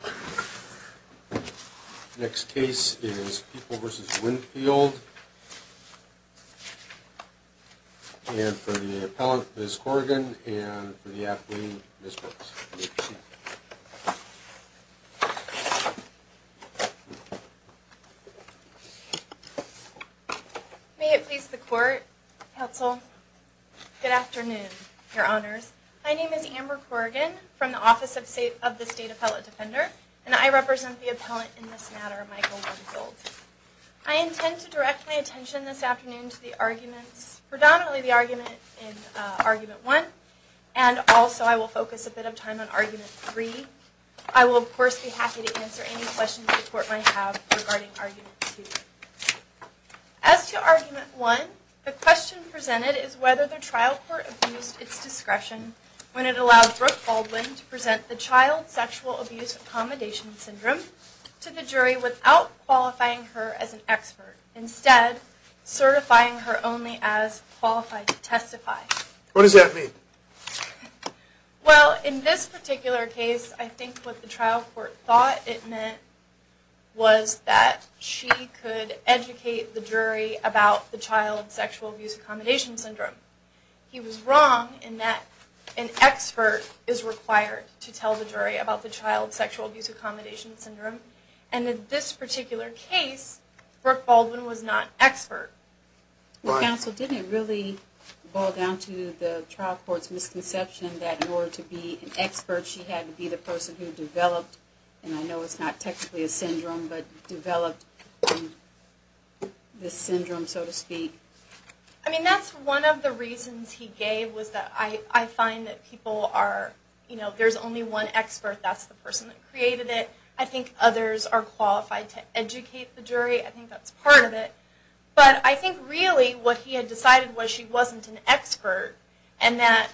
And for the appellant, Ms. Corrigan, and for the athlete, Ms. Brooks, please proceed. May it please the Court, Counsel. Good afternoon, Your Honors. My name is Amber Corrigan from the Office of the State Appellate Defender, and I represent the appellant in this matter, Michael Winfield. I intend to direct my attention this afternoon to the arguments, predominantly the argument in Argument 1, and also I will focus a bit of time on Argument 3. I will, of course, be happy to answer any questions the Court might have regarding Argument 2. As to Argument 1, the question presented is whether the trial court abused its discretion when it allowed Brooke Baldwin to present the child sexual abuse accommodation syndrome to the jury without qualifying her as an expert, instead certifying her only as qualified to testify. What does that mean? Well, in this particular case, I think what the trial court thought it meant was that she could educate the jury about the child sexual abuse accommodation syndrome. He was wrong in that an expert is required to tell the jury about the child sexual abuse accommodation syndrome, and in this particular case, Brooke Baldwin was not expert. Well, counsel, didn't it really boil down to the trial court's misconception that in order to be an expert, she had to be the person who developed, and I know it's not technically a syndrome, but developed this syndrome, so to speak? I mean, that's one of the reasons he gave, was that I find that people are, you know, if there's only one expert, that's the person that created it. I think others are qualified to educate the jury. I think that's part of it, but I think really what he had decided was she wasn't an expert, and that,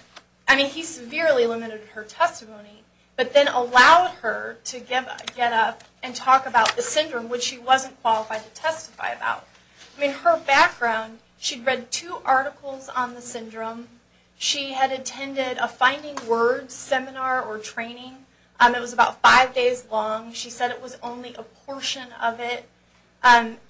I mean, he severely limited her testimony, but then allowed her to get up and talk about the syndrome, which she wasn't qualified to testify about. I mean, her background, she'd read two articles on the syndrome. She had attended a finding words seminar or training. It was about five days long. She said it was only a portion of it.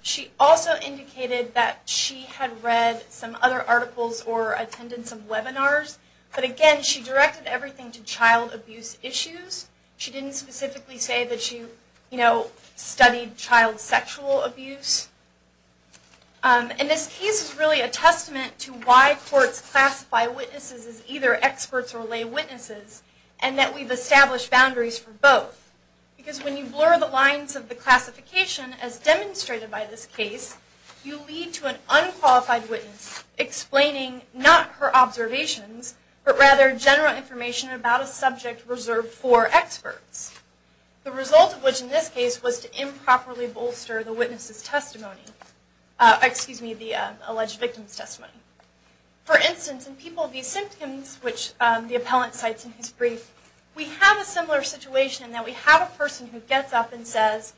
She also indicated that she had read some other articles or attended some webinars, but again, she directed everything to child abuse issues. She didn't specifically say that she, you know, studied child sexual abuse. And this case is really a testament to why courts classify witnesses as either experts or lay witnesses, and that we've established boundaries for both. Because when you blur the lines of the classification, as demonstrated by this case, you lead to an unqualified witness explaining not her observations, but rather general information about a subject reserved for experts. The result of which in this case was to improperly bolster the witness's testimony, excuse me, the alleged victim's testimony. For instance, in people with these symptoms, which the appellant cites in his brief, we have a similar situation in that we have a person who gets up and says,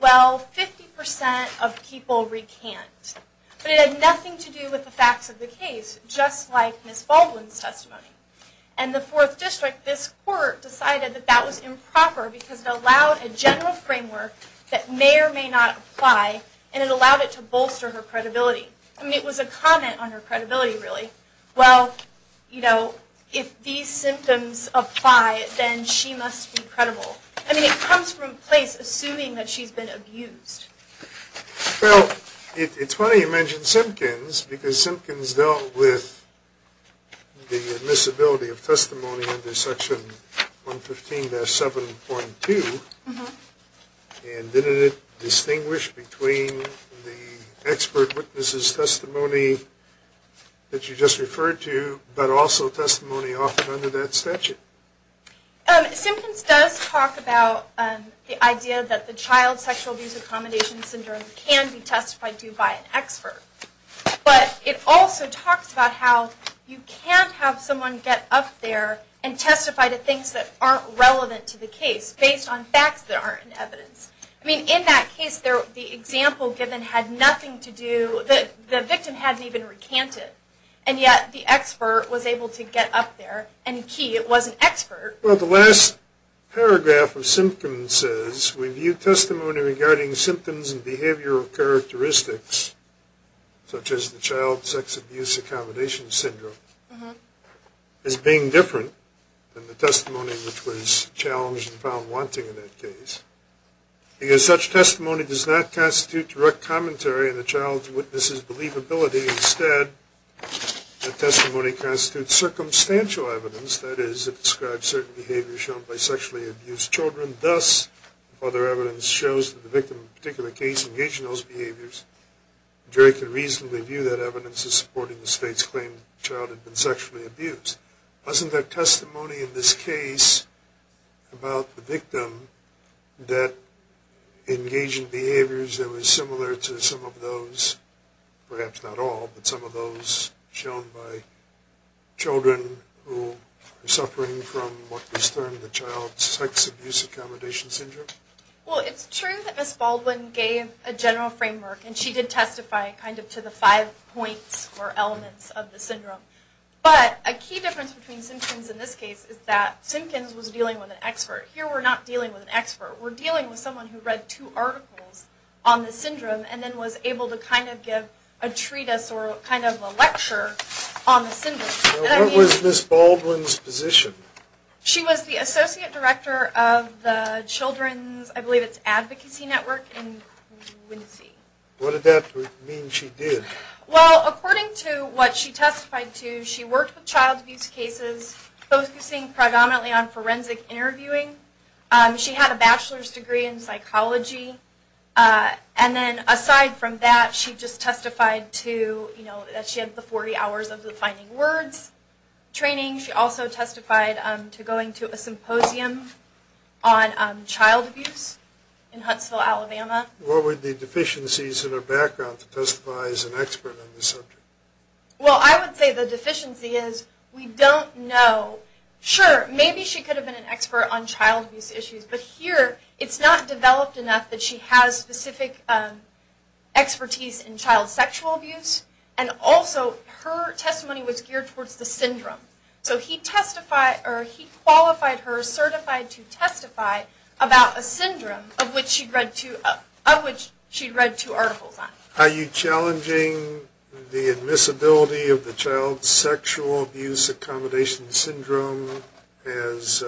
well, 50% of people recant. But it had nothing to do with the facts of the case, just like Ms. Baldwin's testimony. And the Fourth District, this court, decided that that was improper because it allowed a general framework that may or may not apply, and it allowed it to bolster her credibility. I mean, it was a comment on her credibility, really. Well, you know, if these symptoms apply, then she must be credible. I mean, it comes from a place assuming that she's been abused. Well, it's funny you mention Simpkins, because Simpkins dealt with the admissibility of testimony under Section 115-7.2, and didn't it distinguish between the expert witness's testimony that you just referred to, but also testimony offered under that statute? Simpkins does talk about the idea that the child sexual abuse accommodation syndrome can be testified to by an expert. But it also talks about how you can't have someone get up there and testify to things that aren't relevant to the case based on facts that aren't in evidence. I mean, in that case, the example given had nothing to do, the victim hadn't even recanted, and yet the expert was able to get up there, and key, it was an expert. Well, the last paragraph of Simpkins says, Review testimony regarding symptoms and behavioral characteristics, such as the child sexual abuse accommodation syndrome, as being different than the testimony which was challenged and found wanting in that case, because such testimony does not constitute direct commentary in the child's witness's believability. Instead, the testimony constitutes circumstantial evidence, that is, it describes certain behaviors shown by sexually abused children. Thus, if other evidence shows that the victim in a particular case engaged in those behaviors, Jerry could reasonably view that evidence as supporting the state's claim that the child had been sexually abused. Wasn't there testimony in this case about the victim that engaged in behaviors that were similar to some of those, perhaps not all, but some of those shown by children who were suffering from what was termed the child's sex abuse accommodation syndrome? Well, it's true that Ms. Baldwin gave a general framework, and she did testify kind of to the five points or elements of the syndrome, but a key difference between Simpkins in this case is that Simpkins was dealing with an expert. Here, we're not dealing with an expert. We're dealing with someone who read two articles on the syndrome and then was able to kind of give a treatise or kind of a lecture on the syndrome. What was Ms. Baldwin's position? She was the associate director of the Children's, I believe it's Advocacy Network in Winnesee. What did that mean she did? Well, according to what she testified to, she worked with child abuse cases, focusing predominantly on forensic interviewing. She had a bachelor's degree in psychology. And then aside from that, she just testified to, you know, that she had the 40 hours of the finding words training. She also testified to going to a symposium on child abuse in Huntsville, Alabama. What were the deficiencies in her background to testify as an expert on this subject? Well, I would say the deficiency is we don't know. Sure, maybe she could have been an expert on child abuse issues, but here it's not developed enough that she has specific expertise in child sexual abuse. And also, her testimony was geared towards the syndrome. So he qualified her certified to testify about a syndrome of which she'd read two articles on. Are you challenging the admissibility of the child's sexual abuse accommodation syndrome as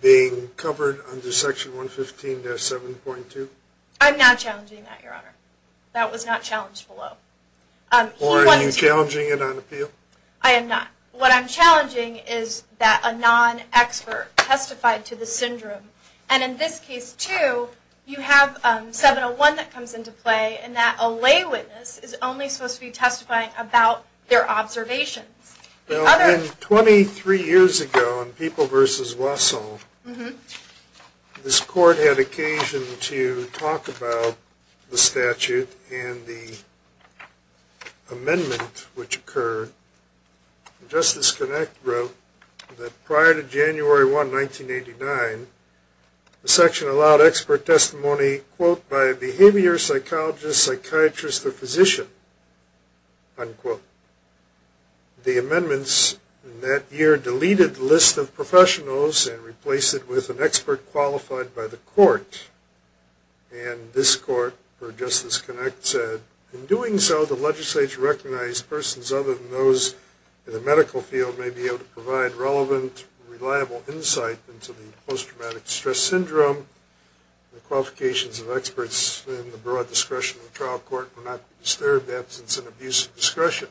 being covered under Section 115-7.2? I'm not challenging that, Your Honor. That was not challenged below. Or are you challenging it on appeal? I am not. What I'm challenging is that a non-expert testified to the syndrome. And in this case, too, you have 701 that comes into play, and that a lay witness is only supposed to be testifying about their observations. Twenty-three years ago in People v. Wasson, this court had occasion to talk about the statute and the amendment which occurred. Justice Kinect wrote that prior to January 1, 1989, by a behavior psychologist, psychiatrist, or physician, unquote, the amendments in that year deleted the list of professionals and replaced it with an expert qualified by the court. And this court, for Justice Kinect, said, in doing so, the legislature recognized persons other than those in the medical field may be able to provide relevant, reliable insight into the post-traumatic stress syndrome, and the qualifications of experts in the broad discretion of the trial court were not to be disturbed in the absence of an abuse of discretion.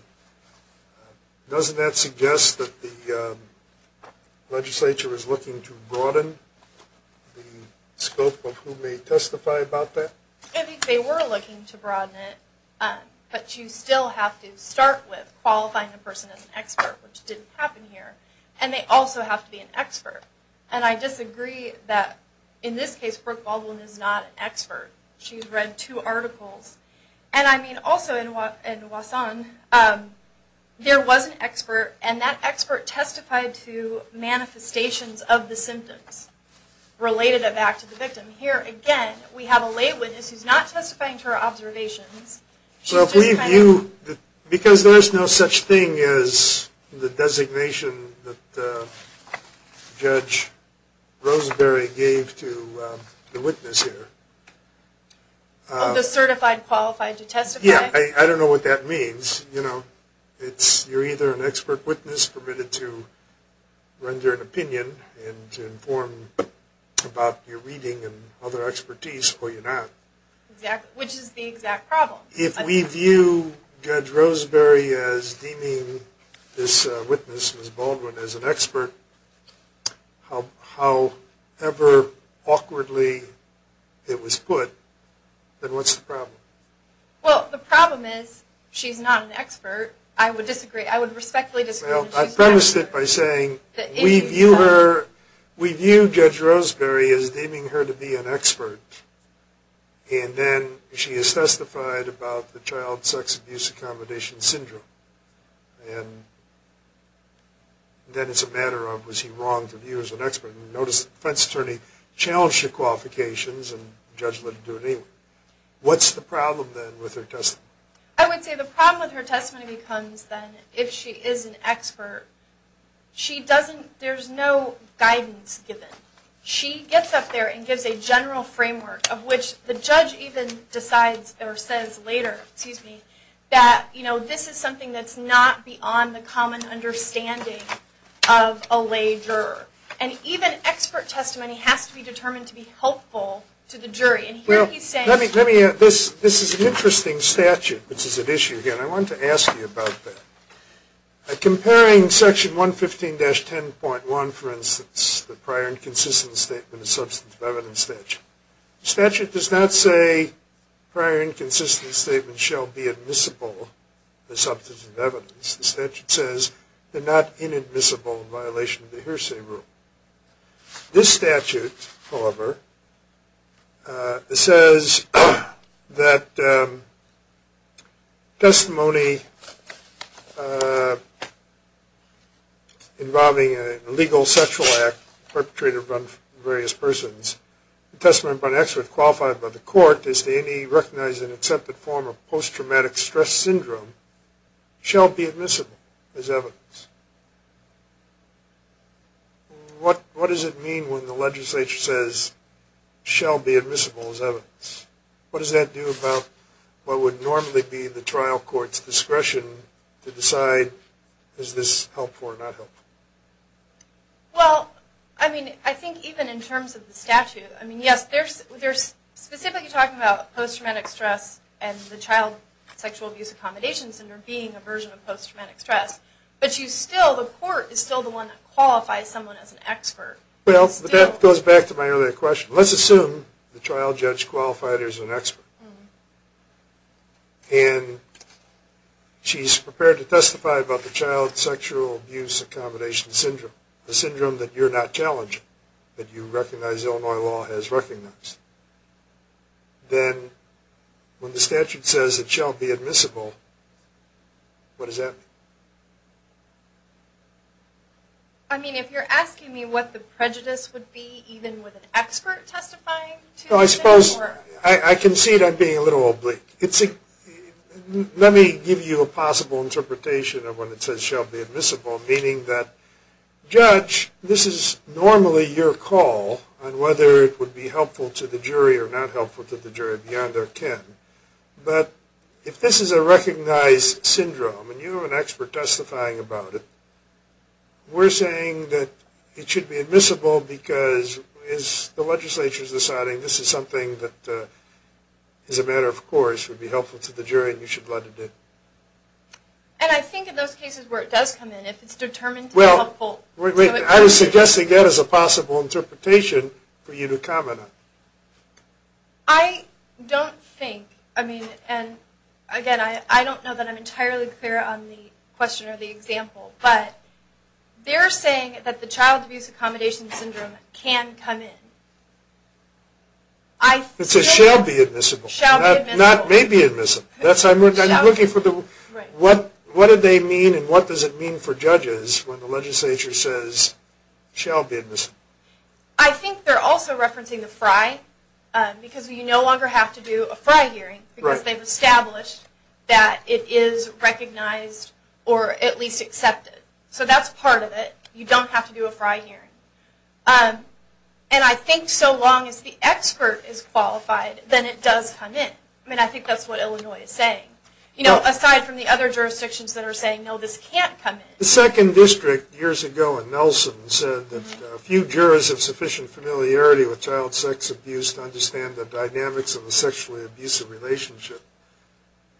Doesn't that suggest that the legislature is looking to broaden the scope of who may testify about that? I think they were looking to broaden it, but you still have to start with qualifying the person as an expert, which didn't happen here. And they also have to be an expert. And I disagree that, in this case, Brooke Baldwin is not an expert. She's read two articles. And I mean, also in Wasson, there was an expert, and that expert testified to manifestations of the symptoms related back to the victim. Here, again, we have a lay witness who's not testifying to her observations. Because there's no such thing as the designation that Judge Roseberry gave to the witness here. Of the certified qualified to testify? Yeah, I don't know what that means. You're either an expert witness permitted to render an opinion and to inform about your reading and other expertise, or you're not. Which is the exact problem. If we view Judge Roseberry as deeming this witness, Ms. Baldwin, as an expert, however awkwardly it was put, then what's the problem? Well, the problem is she's not an expert. I would respectfully disagree. Well, I've premised it by saying we view Judge Roseberry as deeming her to be an expert, and then she has testified about the child sex abuse accommodation syndrome. And then it's a matter of, was he wrong to view her as an expert? Notice the defense attorney challenged her qualifications, and the judge let her do it anyway. What's the problem, then, with her testimony? I would say the problem with her testimony becomes, then, if she is an expert, there's no guidance given. She gets up there and gives a general framework, of which the judge even decides, or says later, that this is something that's not beyond the common understanding of a lay juror. And even expert testimony has to be determined to be helpful to the jury. This is an interesting statute, which is at issue here, and I want to ask you about that. Comparing section 115-10.1, for instance, the prior inconsistent statement of substance of evidence statute. The statute does not say prior inconsistent statements shall be admissible as substance of evidence. The statute says they're not inadmissible in violation of the hearsay rule. This statute, however, says that testimony involving an illegal sexual act perpetrated by various persons, the testimony of an expert qualified by the court as to any recognized as an accepted form of post-traumatic stress syndrome, shall be admissible as evidence. What does it mean when the legislature says, shall be admissible as evidence? What does that do about what would normally be the trial court's discretion to decide, is this helpful or not helpful? Well, I mean, I think even in terms of the statute, I mean, yes, there's specifically talking about post-traumatic stress and the child sexual abuse accommodation syndrome being a version of post-traumatic stress. But you still, the court is still the one that qualifies someone as an expert. Well, that goes back to my earlier question. Let's assume the trial judge qualified her as an expert. And she's prepared to testify about the child sexual abuse accommodation syndrome, the syndrome that you're not challenging, that you recognize Illinois law has recognized. Then when the statute says it shall be admissible, what does that mean? I mean, if you're asking me what the prejudice would be, even with an expert testifying to it? Well, I suppose, I concede I'm being a little oblique. Let me give you a possible interpretation of when it says shall be admissible, meaning that, judge, this is normally your call on whether it would be helpful to the jury or not helpful to the jury beyond their kin. But if this is a recognized syndrome and you're an expert testifying about it, we're saying that it should be admissible because the legislature is deciding this is something that, as a matter of course, would be helpful to the jury and you should let it be. And I think in those cases where it does come in, if it's determined to be helpful. I was suggesting that as a possible interpretation for you to comment on. I don't think, I mean, and again, I don't know that I'm entirely clear on the question or the example, but they're saying that the child abuse accommodation syndrome can come in. It says shall be admissible, not may be admissible. That's what I'm looking for. What do they mean and what does it mean for judges when the legislature says shall be admissible? I think they're also referencing the FRI because you no longer have to do a FRI hearing because they've established that it is recognized or at least accepted. So that's part of it. You don't have to do a FRI hearing. And I think so long as the expert is qualified, then it does come in. I mean, I think that's what Illinois is saying. You know, aside from the other jurisdictions that are saying, no, this can't come in. The second district years ago in Nelson said that a few jurors have sufficient familiarity with child sex abuse to understand the dynamics of a sexually abusive relationship.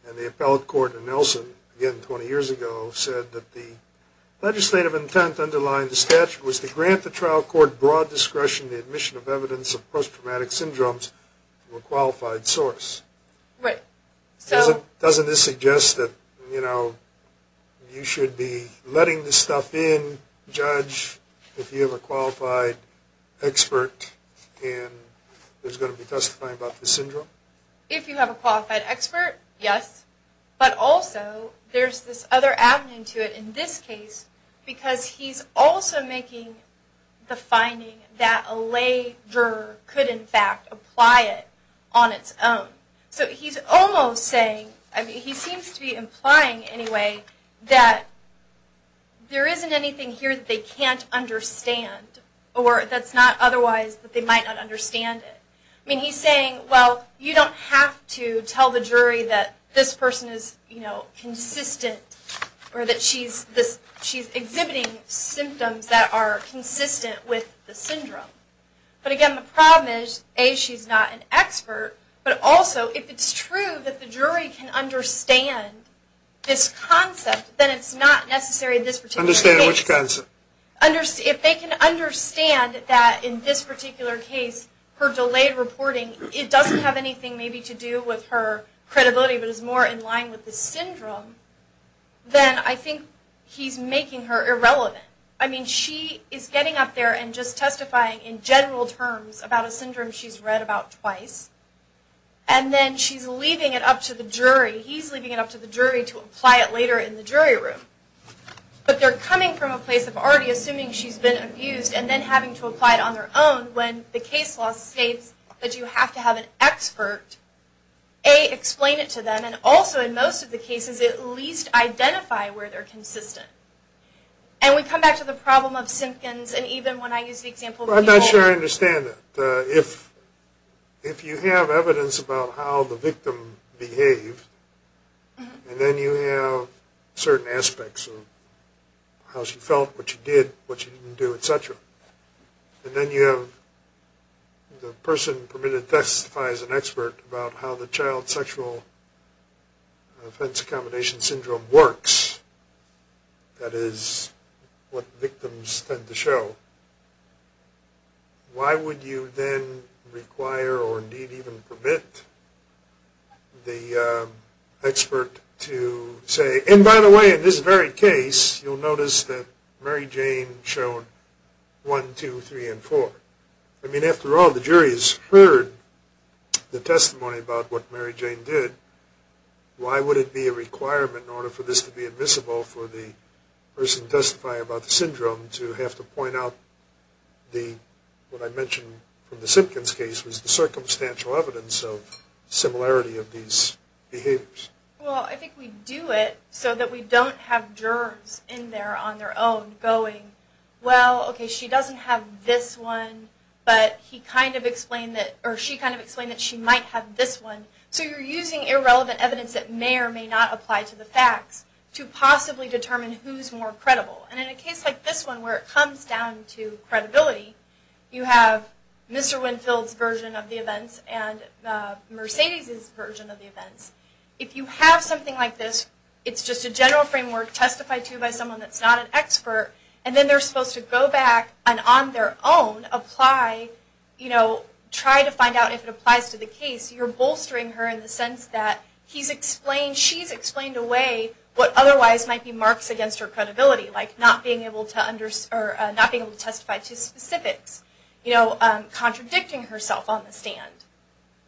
And the appellate court in Nelson, again 20 years ago, said that the legislative intent underlying the statute was to grant the trial court broad discretion to admission of evidence of post-traumatic syndromes to a qualified source. Right. Doesn't this suggest that, you know, you should be letting this stuff in, judge, if you have a qualified expert and there's going to be testifying about this syndrome? If you have a qualified expert, yes. But also there's this other avenue to it in this case because he's also making the finding that a lay juror could, in fact, apply it on its own. So he's almost saying, I mean, he seems to be implying anyway, that there isn't anything here that they can't understand or that's not otherwise that they might not understand it. I mean, he's saying, well, you don't have to tell the jury that this person is, you know, consistent or that she's exhibiting symptoms that are consistent with the syndrome. But again, the problem is, A, she's not an expert, but also if it's true that the jury can understand this concept, then it's not necessary this particular case. Understand which concept? If they can understand that in this particular case, her delayed reporting, it doesn't have anything maybe to do with her credibility, but is more in line with the syndrome, then I think he's making her irrelevant. I mean, she is getting up there and just testifying in general terms about a syndrome she's read about twice. And then she's leaving it up to the jury. He's leaving it up to the jury to apply it later in the jury room. But they're coming from a place of already assuming she's been abused and then having to apply it on their own when the case law states that you have to have an expert, A, explain it to them, and also in most of the cases, at least identify where they're consistent. And we come back to the problem of Simpkins, and even when I use the example of people... Well, I'm not sure I understand that. If you have evidence about how the victim behaved, and then you have certain aspects of how she felt, what she did, what she didn't do, et cetera, and then you have the person permitted to testify as an expert about how the child sexual offense accommodation syndrome works, that is, what victims tend to show, why would you then require or indeed even permit the expert to say, and by the way, in this very case, you'll notice that Mary Jane showed 1, 2, 3, and 4. I mean, after all, the jury has heard the testimony about what Mary Jane did. Why would it be a requirement in order for this to be admissible for the person testifying about the syndrome to have to point out what I mentioned from the Simpkins case was the circumstantial evidence of similarity of these behaviors? Well, I think we do it so that we don't have jurors in there on their own going, well, okay, she doesn't have this one, but he kind of explained that, or she kind of explained that she might have this one. So you're using irrelevant evidence that may or may not apply to the facts to possibly determine who's more credible. And in a case like this one where it comes down to credibility, you have Mr. Winfield's version of the events and Mercedes' version of the events. If you have something like this, it's just a general framework testified to by someone that's not an expert, and then they're supposed to go back and on their own apply, try to find out if it applies to the case, you're bolstering her in the sense that she's explained away what otherwise might be marks against her credibility, like not being able to testify to specifics, contradicting herself on the stand.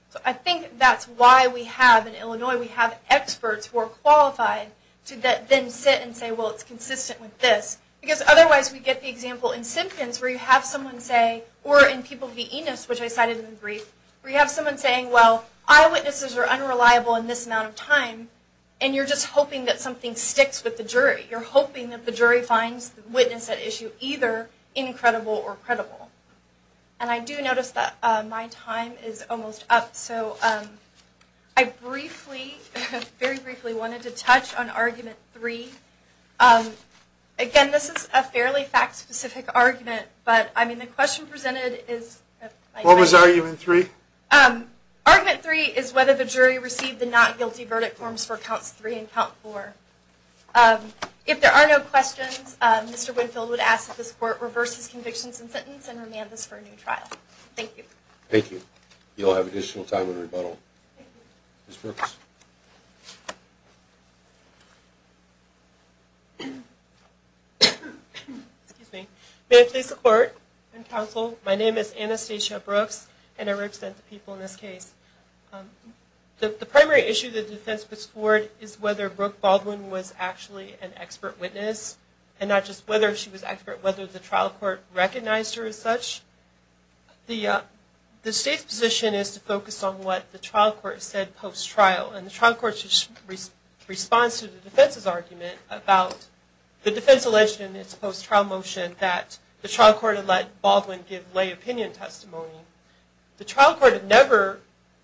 So I think that's why we have in Illinois, we have experts who are qualified to then sit and say, well, it's consistent with this. Because otherwise we get the example in Simpkins where you have someone say, or in People v. Enos, which I cited in the brief, where you have someone saying, well, eyewitnesses are unreliable in this amount of time, and you're just hoping that something sticks with the jury. You're hoping that the jury finds the witness at issue either incredible or credible. And I do notice that my time is almost up. So I briefly, very briefly, wanted to touch on Argument 3. Again, this is a fairly fact-specific argument, but the question presented is... What was Argument 3? Argument 3 is whether the jury received the not guilty verdict forms for Counts 3 and Count 4. If there are no questions, Mr. Winfield would ask that this court reverse his convictions and sentence and remand this for a new trial. Thank you. Thank you. You'll have additional time in rebuttal. Ms. Brooks. May I please support and counsel? My name is Anastasia Brooks, and I represent the people in this case. The primary issue that the defense puts forward is whether Brooke Baldwin was actually an expert witness, and not just whether she was an expert, whether the trial court recognized her as such. The state's position is to focus on what the trial court said post-trial, and the trial court's response to the defense's argument about the defense alleged in its post-trial motion that the trial court had let Baldwin give lay opinion testimony. The trial court had never,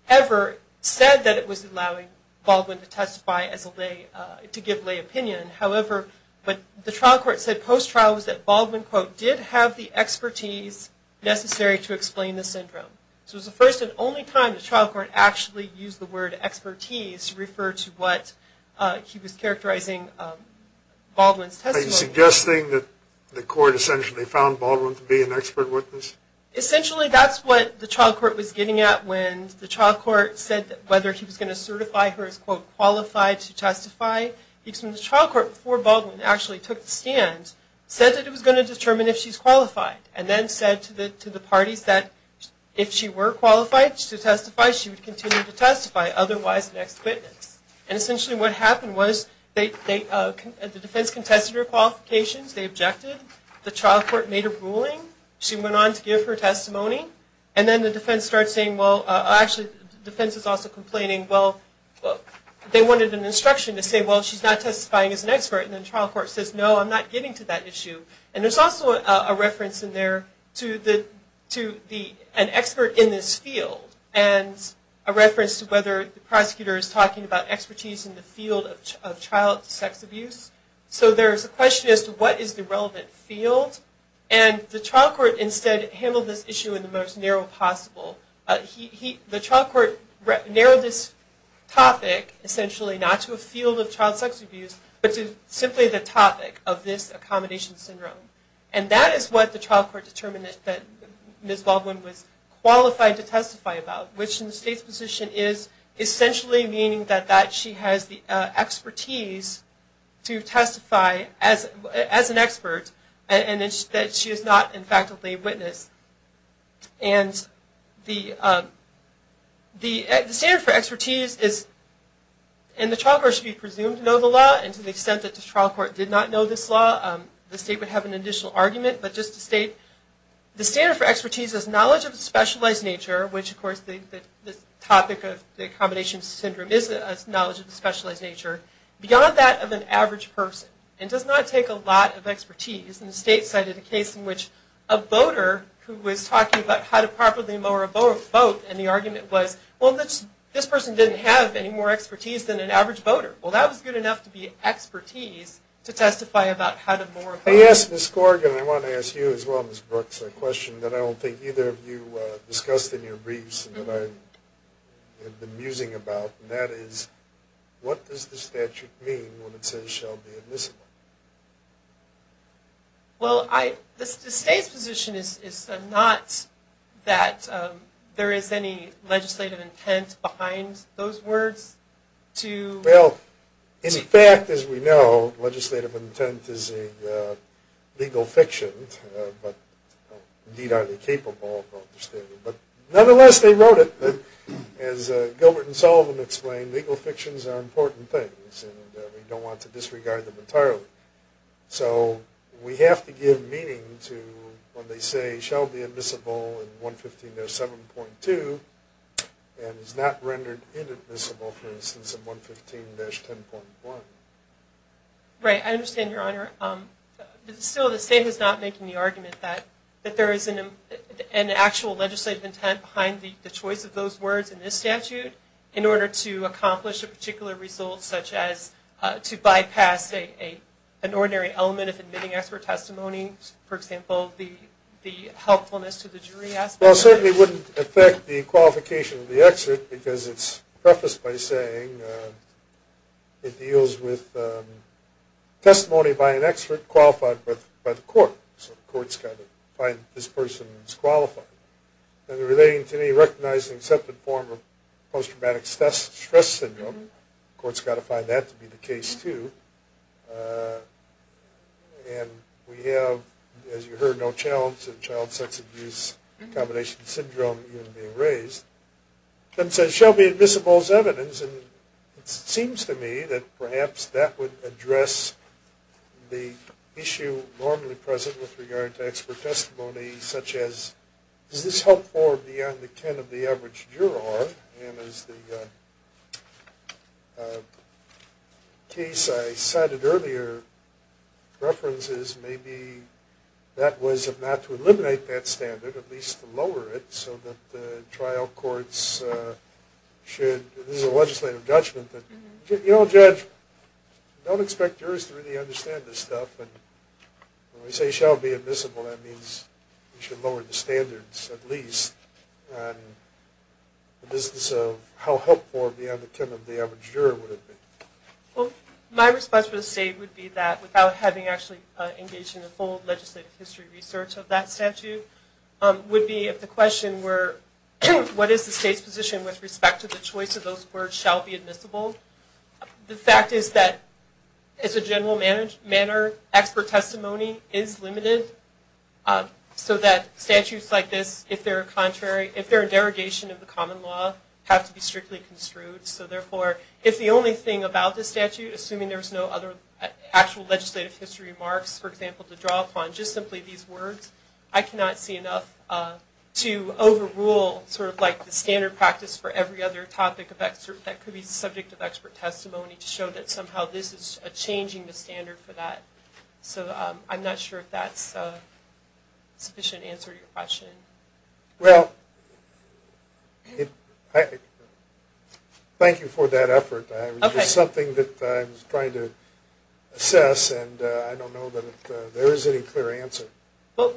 ever said that it was allowing Baldwin to testify to give lay opinion. However, what the trial court said post-trial was that Baldwin, quote, did have the expertise necessary to explain the syndrome. So it was the first and only time the trial court actually used the word expertise to refer to what he was characterizing Baldwin's testimony. Are you suggesting that the court essentially found Baldwin to be an expert witness? Essentially, that's what the trial court was getting at when the trial court said whether he was going to certify her as, quote, qualified to testify. The trial court, before Baldwin actually took the stand, said that it was going to determine if she's qualified, and then said to the parties that if she were qualified to testify, she would continue to testify, otherwise an expert witness. And essentially what happened was the defense contested her qualifications. They objected. The trial court made a ruling. She went on to give her testimony. And then the defense started saying, well, actually the defense is also complaining, well, they wanted an instruction to say, well, she's not testifying as an expert. And then the trial court says, no, I'm not getting to that issue. And there's also a reference in there to an expert in this field, and a reference to whether the prosecutor is talking about expertise in the field of child sex abuse. So there's a question as to what is the relevant field. And the trial court instead handled this issue in the most narrow possible. The trial court narrowed this topic, essentially, not to a field of child sex abuse, but to simply the topic of this accommodation syndrome. And that is what the trial court determined that Ms. Baldwin was qualified to testify about, which in the state's position is essentially meaning that she has the expertise to testify as an expert and that she is not, in fact, a lay witness. And the standard for expertise is, and the trial court should be presumed to know the law, and to the extent that the trial court did not know this law, the state would have an additional argument. But just to state, the standard for expertise is knowledge of the specialized nature, which, of course, the topic of the accommodation syndrome is knowledge of the specialized nature, beyond that of an average person. It does not take a lot of expertise. And the state cited a case in which a voter who was talking about how to properly lower a vote, and the argument was, well, this person didn't have any more expertise than an average voter. Well, that was good enough to be expertise to testify about how to lower a vote. Yes, Ms. Corrigan, I want to ask you as well, Ms. Brooks, a question that I don't think either of you discussed in your briefs and that I have been musing about, and that is, what does the statute mean when it says shall be admissible? Well, the state's position is not that there is any legislative intent behind those words. Well, in fact, as we know, legislative intent is a legal fiction, but, indeed, But, nonetheless, they wrote it. As Gilbert and Sullivan explained, legal fictions are important things, and we don't want to disregard them entirely. So we have to give meaning to when they say shall be admissible in 115-7.2, and is not rendered inadmissible, for instance, in 115-10.1. Right, I understand, Your Honor. Still, the state is not making the argument that there is an actual legislative intent behind the choice of those words in this statute in order to accomplish a particular result, such as to bypass, say, an ordinary element of admitting expert testimony, for example, the helpfulness to the jury aspect. Well, it certainly wouldn't affect the qualification of the excerpt, because it's prefaced by saying it deals with testimony by an expert qualified by the court. So the court's got to find this person who's qualified. Then relating to any recognized and accepted form of post-traumatic stress syndrome, the court's got to find that to be the case, too. And we have, as you heard, no challenge in child sex abuse, combination syndrome even being raised. Then it says shall be admissible as evidence, and it seems to me that perhaps that would address the issue normally present with regard to expert testimony, such as is this helpful or beyond the kin of the average juror? And as the case I cited earlier references, maybe that was not to eliminate that standard, at least to lower it, so that the trial courts should, this is a legislative judgment. You know, Judge, I don't expect jurors to really understand this stuff, but when we say shall be admissible, that means we should lower the standards, at least, in the business of how helpful or beyond the kin of the average juror would it be. Well, my response to the state would be that, without having actually engaged in the full legislative history research of that statute, would be if the question were what is the state's position with respect to the choice of those words shall be admissible? The fact is that as a general manner, expert testimony is limited, so that statutes like this, if they're a derogation of the common law, have to be strictly construed. So therefore, if the only thing about this statute, assuming there's no other actual legislative history marks, for example, to draw upon, just simply these words, I cannot see enough to overrule sort of like the standard practice for every other topic of expert, that could be subject of expert testimony to show that somehow this is changing the standard for that. So I'm not sure if that's a sufficient answer to your question. Well, thank you for that effort. It was just something that I was trying to assess, and I don't know that there is any clear answer. Well,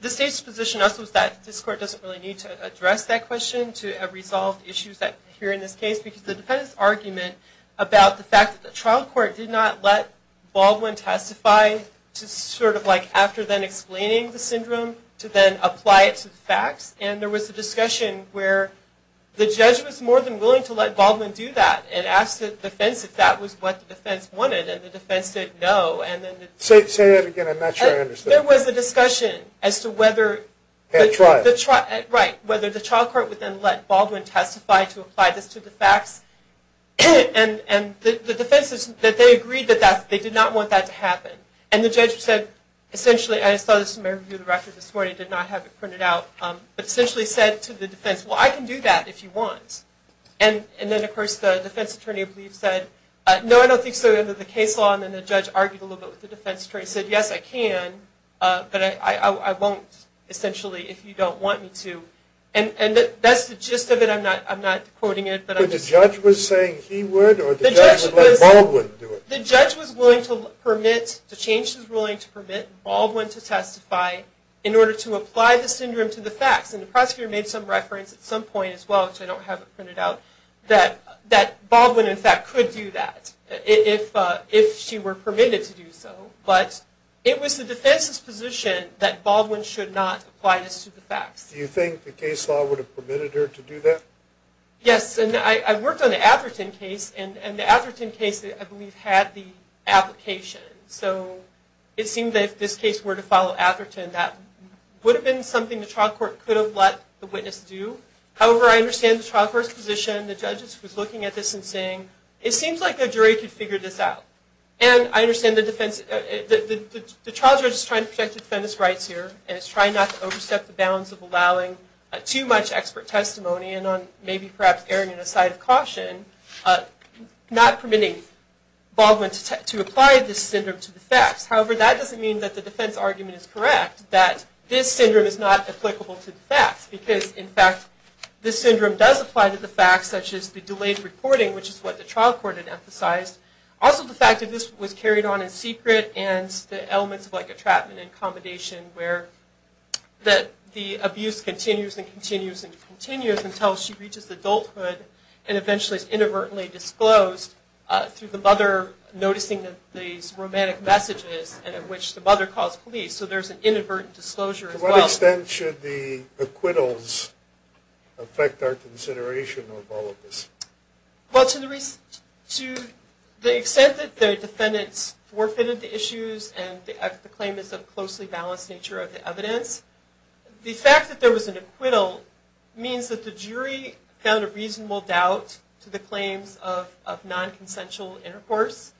the state's position also is that this court doesn't really need to address that question to have resolved issues that appear in this case, because the defendant's argument about the fact that the trial court did not let Baldwin testify to sort of like after then explaining the syndrome, to then apply it to the facts, and there was a discussion where the judge was more than willing to let Baldwin do that and asked the defense if that was what the defense wanted, and the defense said no. Say that again, I'm not sure I understood. There was a discussion as to whether the trial court would then let Baldwin testify to apply this to the facts, and the defense is that they agreed that they did not want that to happen, and the judge said essentially, and I saw this in my review of the record this morning, I did not have it printed out, but essentially said to the defense, well, I can do that if you want, and then, of course, the defense attorney, I believe, said no, I don't think so, at the end of the case law, and then the judge argued a little bit with the defense attorney, said yes, I can, but I won't essentially if you don't want me to, and that's the gist of it. But the judge was saying he would, or the judge would let Baldwin do it? The judge was willing to permit, the change was willing to permit Baldwin to testify in order to apply the syndrome to the facts, and the prosecutor made some reference at some point as well, which I don't have it printed out, that Baldwin, in fact, could do that if she were permitted to do so, but it was the defense's position that Baldwin should not apply this to the facts. Do you think the case law would have permitted her to do that? Yes, and I worked on the Atherton case, and the Atherton case, I believe, had the application, so it seemed that if this case were to follow Atherton, that would have been something the trial court could have let the witness do. However, I understand the trial court's position. The judge was looking at this and saying, it seems like the jury could figure this out, and I understand the defense, the trial judge is trying to protect the defendant's rights here, and is trying not to overstep the bounds of allowing too much expert testimony, and on maybe perhaps erring in a side of caution, not permitting Baldwin to apply this syndrome to the facts. However, that doesn't mean that the defense argument is correct, that this syndrome is not applicable to the facts, because, in fact, this syndrome does apply to the facts, such as the delayed reporting, which is what the trial court had emphasized, also the fact that this was carried on in secret, and the elements of, like, entrapment and accommodation, where the abuse continues and continues and continues until she reaches adulthood, and eventually is inadvertently disclosed through the mother noticing these romantic messages in which the mother calls police. So there's an inadvertent disclosure as well. To what extent should the acquittals affect our consideration of all of this? Well, to the extent that the defendants forfeited the issues, and the claim is of a closely balanced nature of the evidence, the fact that there was an acquittal means that the jury found a reasonable doubt to the claims of non-consensual intercourse,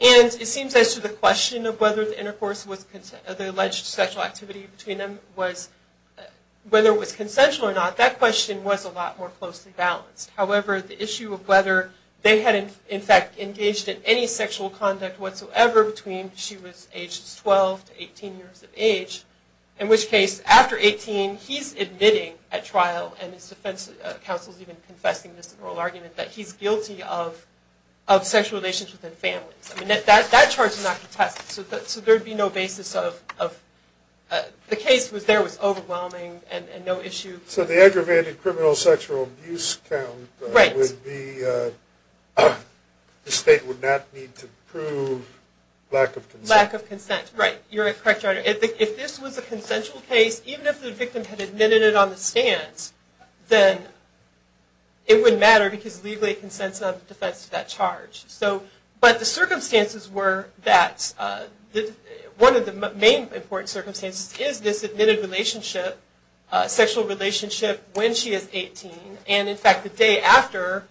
and it seems as to the question of whether the alleged sexual activity between them was, whether it was consensual or not, that question was a lot more closely balanced. However, the issue of whether they had, in fact, engaged in any sexual conduct whatsoever between she was age 12 to 18 years of age, in which case, after 18, he's admitting at trial, and his defense counsel is even confessing this in oral argument, that he's guilty of sexual relations within families. I mean, that charge is not contested. So there'd be no basis of, the case there was overwhelming and no issue. So the aggravated criminal sexual abuse count would be, the state would not need to prove lack of consent. Lack of consent, right. You're correct, Your Honor. If this was a consensual case, even if the victim had admitted it on the stands, then it wouldn't matter because legally it consents not to defend that charge. So, but the circumstances were that, one of the main important circumstances is this admitted relationship, sexual relationship when she is 18, and in fact the day after,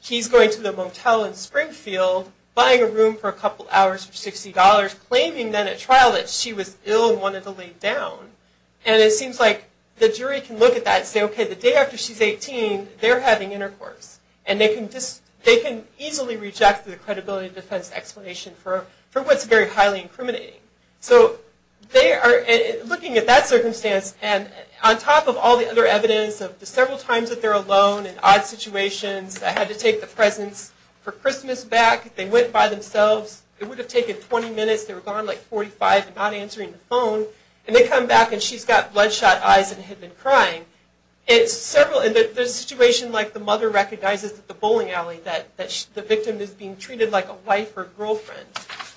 he's going to the motel in Springfield, buying a room for a couple hours for $60, claiming then at trial that she was ill and wanted to lay down. And it seems like the jury can look at that and say, okay, the day after she's 18, they're having intercourse. And they can easily reject the credibility defense explanation for what's very highly incriminating. So they are looking at that circumstance and on top of all the other evidence of the several times that they're alone and odd situations, I had to take the presents for Christmas back. They went by themselves. It would have taken 20 minutes. They were gone like 45 and not answering the phone. And they come back and she's got bloodshot eyes and had been crying. There's a situation like the mother recognizes at the bowling alley that the victim is being treated like a wife or girlfriend.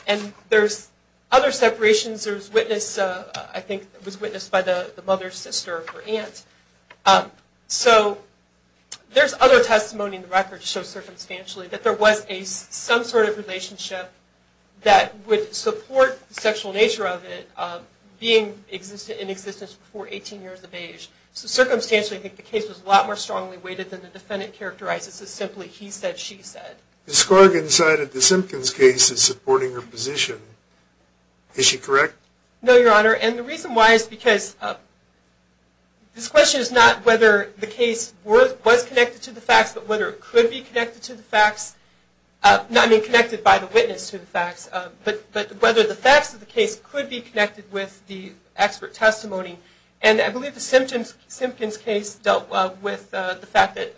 And there's other separations. There's witness, I think it was witnessed by the mother's sister or aunt. So there's other testimony in the record to show circumstantially that there was some sort of relationship that would support the sexual nature of it being in existence before 18 years of age. So circumstantially, I think the case was a lot more strongly weighted than the defendant characterizes. It's simply he said, she said. Ms. Corrigan cited the Simpkins case as supporting her position. Is she correct? No, Your Honor. And the reason why is because this question is not whether the case was connected to the facts, but whether it could be connected to the facts, not being connected by the witness to the facts, but whether the facts of the case could be connected with the expert testimony. And I believe the Simpkins case dealt with the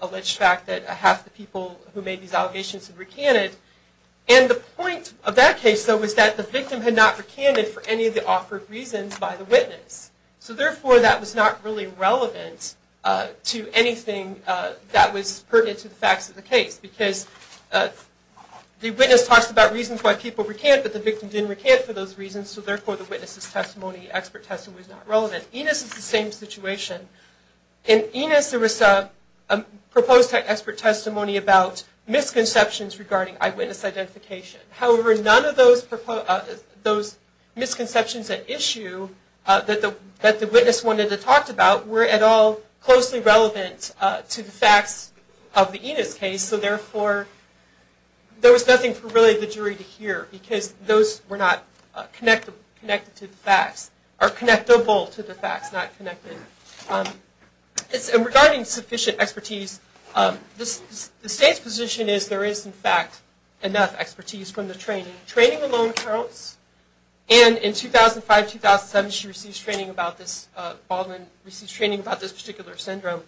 alleged fact that half the people who made these allegations had recanted. And the point of that case, though, was that the victim had not recanted for any of the offered reasons by the witness. So therefore, that was not really relevant to anything that was pertinent to the facts of the case. Because the witness talks about reasons why people recant, but the victim didn't recant for those reasons. So therefore, the witness's testimony, expert testimony is not relevant. Enos is the same situation. In Enos, there was a proposed expert testimony about misconceptions regarding eyewitness identification. However, none of those misconceptions at issue that the witness wanted to talk about were at all closely relevant to the facts of the Enos case. And so therefore, there was nothing for really the jury to hear, because those were not connected to the facts, or connectable to the facts, not connected. And regarding sufficient expertise, the state's position is there is, in fact, enough expertise from the training. Training alone counts. And in 2005-2007, she received training about this particular syndrome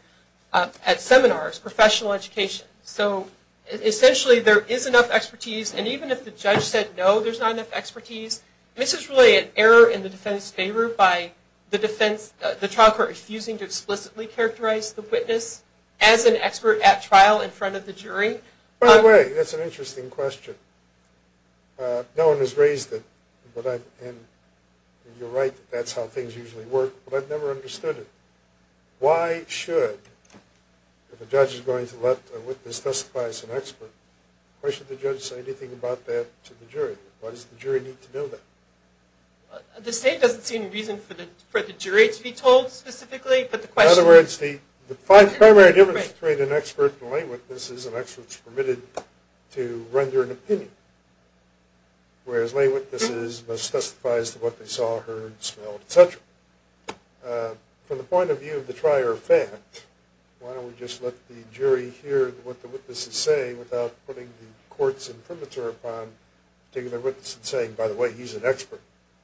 at seminars, professional education. So essentially, there is enough expertise. And even if the judge said, no, there's not enough expertise, this is really an error in the defense's favor by the trial court refusing to explicitly characterize the witness as an expert at trial in front of the jury. By the way, that's an interesting question. No one has raised it, and you're right, that's how things usually work. But I've never understood it. Why should, if a judge is going to let a witness testify as an expert, why should the judge say anything about that to the jury? Why does the jury need to know that? The state doesn't see any reason for the jury to be told specifically, but the question is. The primary difference between an expert and lay witness is an expert is permitted to render an opinion, whereas lay witnesses must testify as to what they saw, heard, smelled, et cetera. From the point of view of the trier of fact, why don't we just let the jury hear what the witnesses say without putting the courts in premature upon taking the witness and saying, by the way, he's an expert?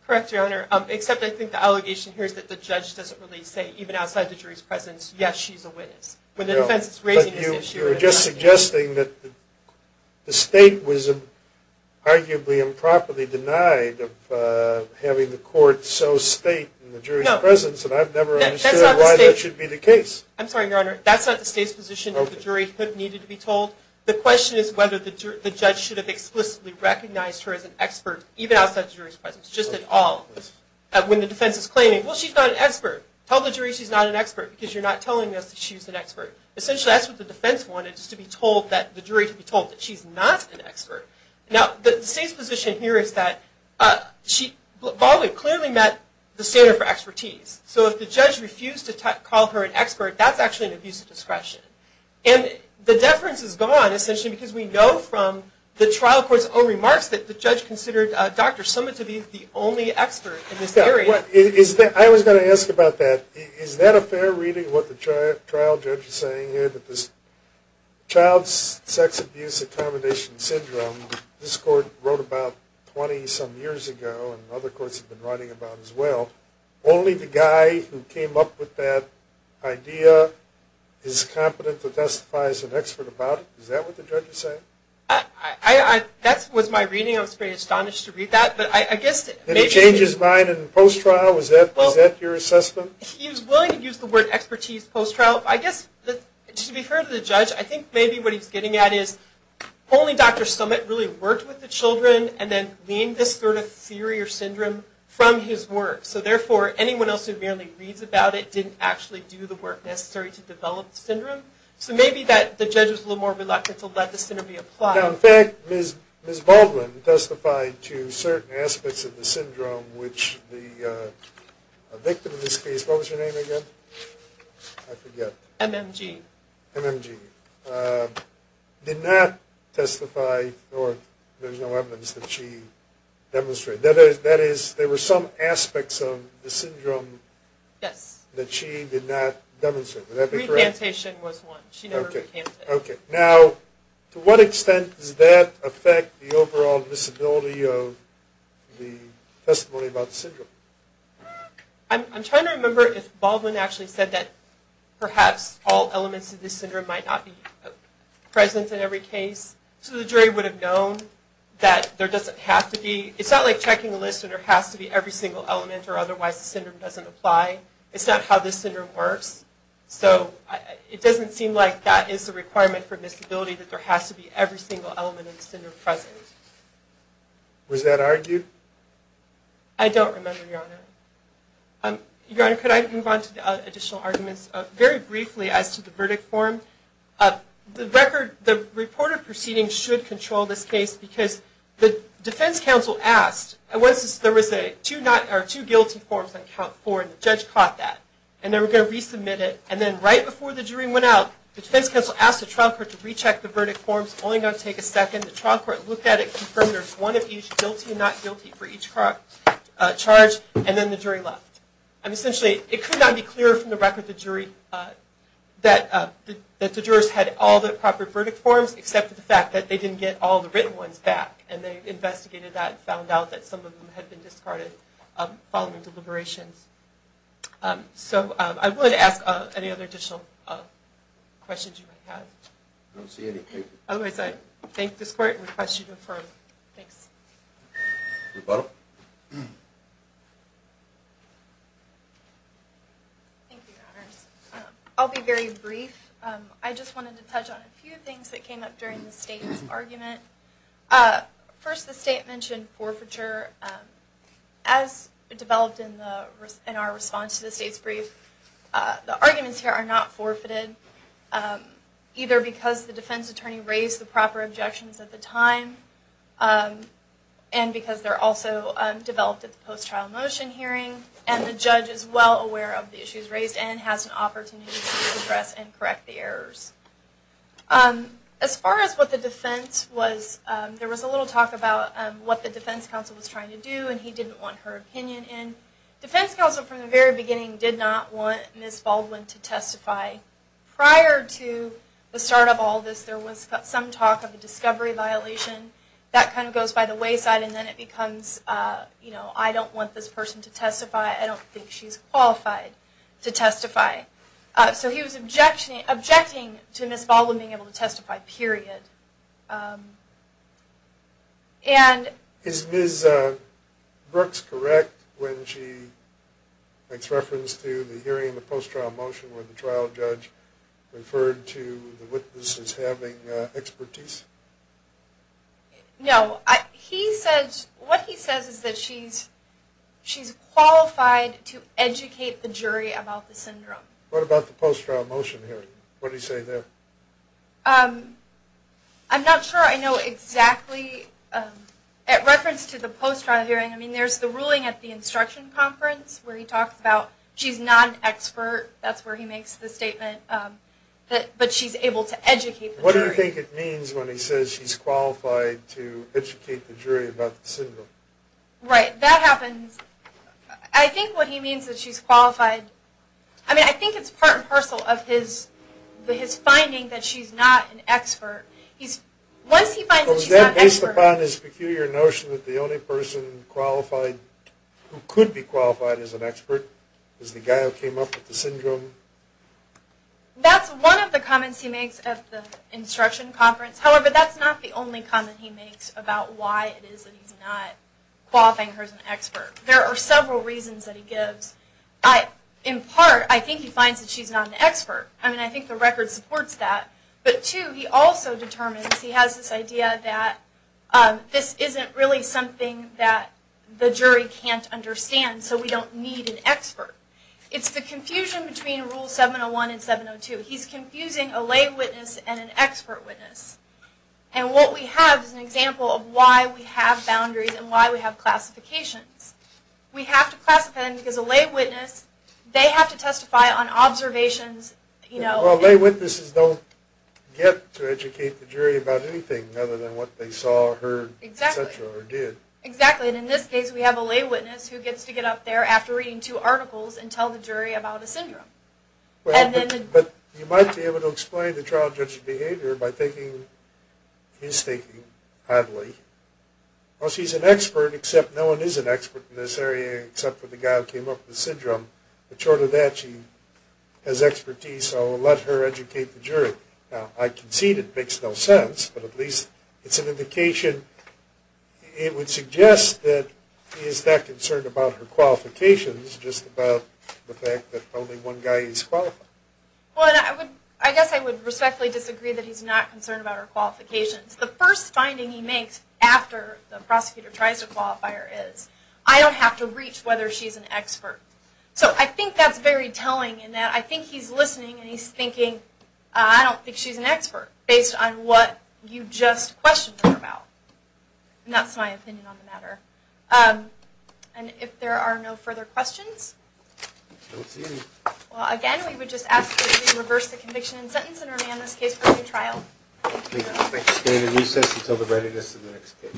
Correct, Your Honor, except I think the allegation here is that the judge doesn't really say, yes, she's a witness, when the defense is raising this issue. You're just suggesting that the state was arguably improperly denied of having the court so state in the jury's presence, and I've never understood why that should be the case. I'm sorry, Your Honor, that's not the state's position, that the jury needed to be told. The question is whether the judge should have explicitly recognized her as an expert, even outside the jury's presence, just at all. When the defense is claiming, well, she's not an expert. Tell the jury she's not an expert, because you're not telling us that she's an expert. Essentially, that's what the defense wanted, just to be told, the jury to be told that she's not an expert. Now, the state's position here is that Baldwin clearly met the standard for expertise, so if the judge refused to call her an expert, that's actually an abuse of discretion. And the deference is gone, essentially, because we know from the trial court's own remarks that the judge considered Dr. Summit to be the only expert in this area. I was going to ask about that. Is that a fair reading, what the trial judge is saying here, that this child's sex abuse accommodation syndrome, this court wrote about 20-some years ago, and other courts have been writing about it as well, only the guy who came up with that idea is competent to testify as an expert about it? Is that what the judge is saying? That was my reading. I was pretty astonished to read that. Did he change his mind in the post-trial? Was that your assessment? He was willing to use the word expertise post-trial. I guess, to be fair to the judge, I think maybe what he's getting at is only Dr. Summit really worked with the children and then leaned this sort of theory or syndrome from his work. So therefore, anyone else who merely reads about it didn't actually do the work necessary to develop the syndrome. So maybe the judge was a little more reluctant to let the syndrome be applied. Now, in fact, Ms. Baldwin testified to certain aspects of the syndrome, which the victim in this case, what was her name again? I forget. MMG. MMG. Did not testify or there's no evidence that she demonstrated. That is, there were some aspects of the syndrome that she did not demonstrate. Would that be correct? Recantation was one. She never recanted. Okay. Now, to what extent does that affect the overall visibility of the testimony about the syndrome? I'm trying to remember if Baldwin actually said that perhaps all elements of this syndrome might not be present in every case. So the jury would have known that there doesn't have to be. It's not like checking a list and there has to be every single element or otherwise the syndrome doesn't apply. It's not how this syndrome works. So it doesn't seem like that is the requirement for visibility, that there has to be every single element of the syndrome present. Was that argued? I don't remember, Your Honor. Your Honor, could I move on to the additional arguments? Very briefly as to the verdict form, the report of proceedings should control this case because the defense counsel asked, there was two guilty forms on count four and the judge caught that. And they were going to resubmit it. And then right before the jury went out, the defense counsel asked the trial court to recheck the verdict forms. It's only going to take a second. The trial court looked at it, confirmed there's one of each guilty and not guilty for each charge, and then the jury left. And essentially, it could not be clearer from the record of the jury that the jurors had all the proper verdict forms except for the fact that they didn't get all the written ones back. And they investigated that and found out that some of them had been discarded following deliberations. So I'm willing to ask any other additional questions you might have. I don't see any. Otherwise, I thank this court and request you to confirm. Ms. Butler? Thank you, Your Honors. I'll be very brief. I just wanted to touch on a few things that came up during the state's argument. First, the state mentioned forfeiture. As developed in our response to the state's brief, the arguments here are not forfeited, either because the defense attorney raised the proper objections at the time and because they're also developed at the post-trial motion hearing and the judge is well aware of the issues raised and has an opportunity to address and correct the errors. As far as what the defense was, there was a little talk about what the defense counsel was trying to do and he didn't want her opinion in. Defense counsel from the very beginning did not want Ms. Baldwin to testify. Prior to the start of all this, there was some talk of a discovery violation. That kind of goes by the wayside and then it becomes, you know, I don't want this person to testify. I don't think she's qualified to testify. So he was objecting to Ms. Baldwin being able to testify, period. Is Ms. Brooks correct when she makes reference to the hearing of the post-trial motion where the trial judge referred to the witnesses having expertise? No. What he says is that she's qualified to educate the jury about the syndrome. What about the post-trial motion hearing? What did he say there? I'm not sure I know exactly. At reference to the post-trial hearing, I mean, there's the ruling at the instruction conference where he talks about she's not an expert. That's where he makes the statement. But she's able to educate the jury. What do you think it means when he says she's qualified to educate the jury about the syndrome? Right. That happens. I think what he means is that she's qualified. I mean, I think it's part and parcel of his finding that she's not an expert. Once he finds that she's not an expert. Based upon his peculiar notion that the only person who could be qualified as an expert is the guy who came up with the syndrome? That's one of the comments he makes at the instruction conference. However, that's not the only comment he makes about why it is that he's not qualifying her as an expert. There are several reasons that he gives. In part, I think he finds that she's not an expert. I mean, I think the record supports that. But two, he also determines, he has this idea that this isn't really something that the jury can't understand. So we don't need an expert. It's the confusion between Rule 701 and 702. He's confusing a lay witness and an expert witness. And what we have is an example of why we have boundaries and why we have classifications. We have to classify them because a lay witness, they have to testify on observations. Well, lay witnesses don't get to educate the jury about anything other than what they saw, heard, etc. or did. Exactly. And in this case, we have a lay witness who gets to get up there after reading two articles and tell the jury about a syndrome. But you might be able to explain the trial judge's behavior by taking his thinking, oddly. Well, she's an expert, except no one is an expert in this area except for the guy who came up with the syndrome. But short of that, she has expertise, so we'll let her educate the jury. Now, I concede it makes no sense, but at least it's an indication. It would suggest that he is not concerned about her qualifications, just about the fact that only one guy is qualified. Well, I guess I would respectfully disagree that he's not concerned about her qualifications. The first finding he makes after the prosecutor tries to qualify her is, I don't have to reach whether she's an expert. So I think that's very telling in that I think he's listening and he's thinking, I don't think she's an expert based on what you just questioned her about. And that's my opinion on the matter. And if there are no further questions? I don't see any. Well, again, we would just ask that you reverse the conviction and sentence and remand this case for a new trial. Thank you. We're going to recess until the readiness of the next case.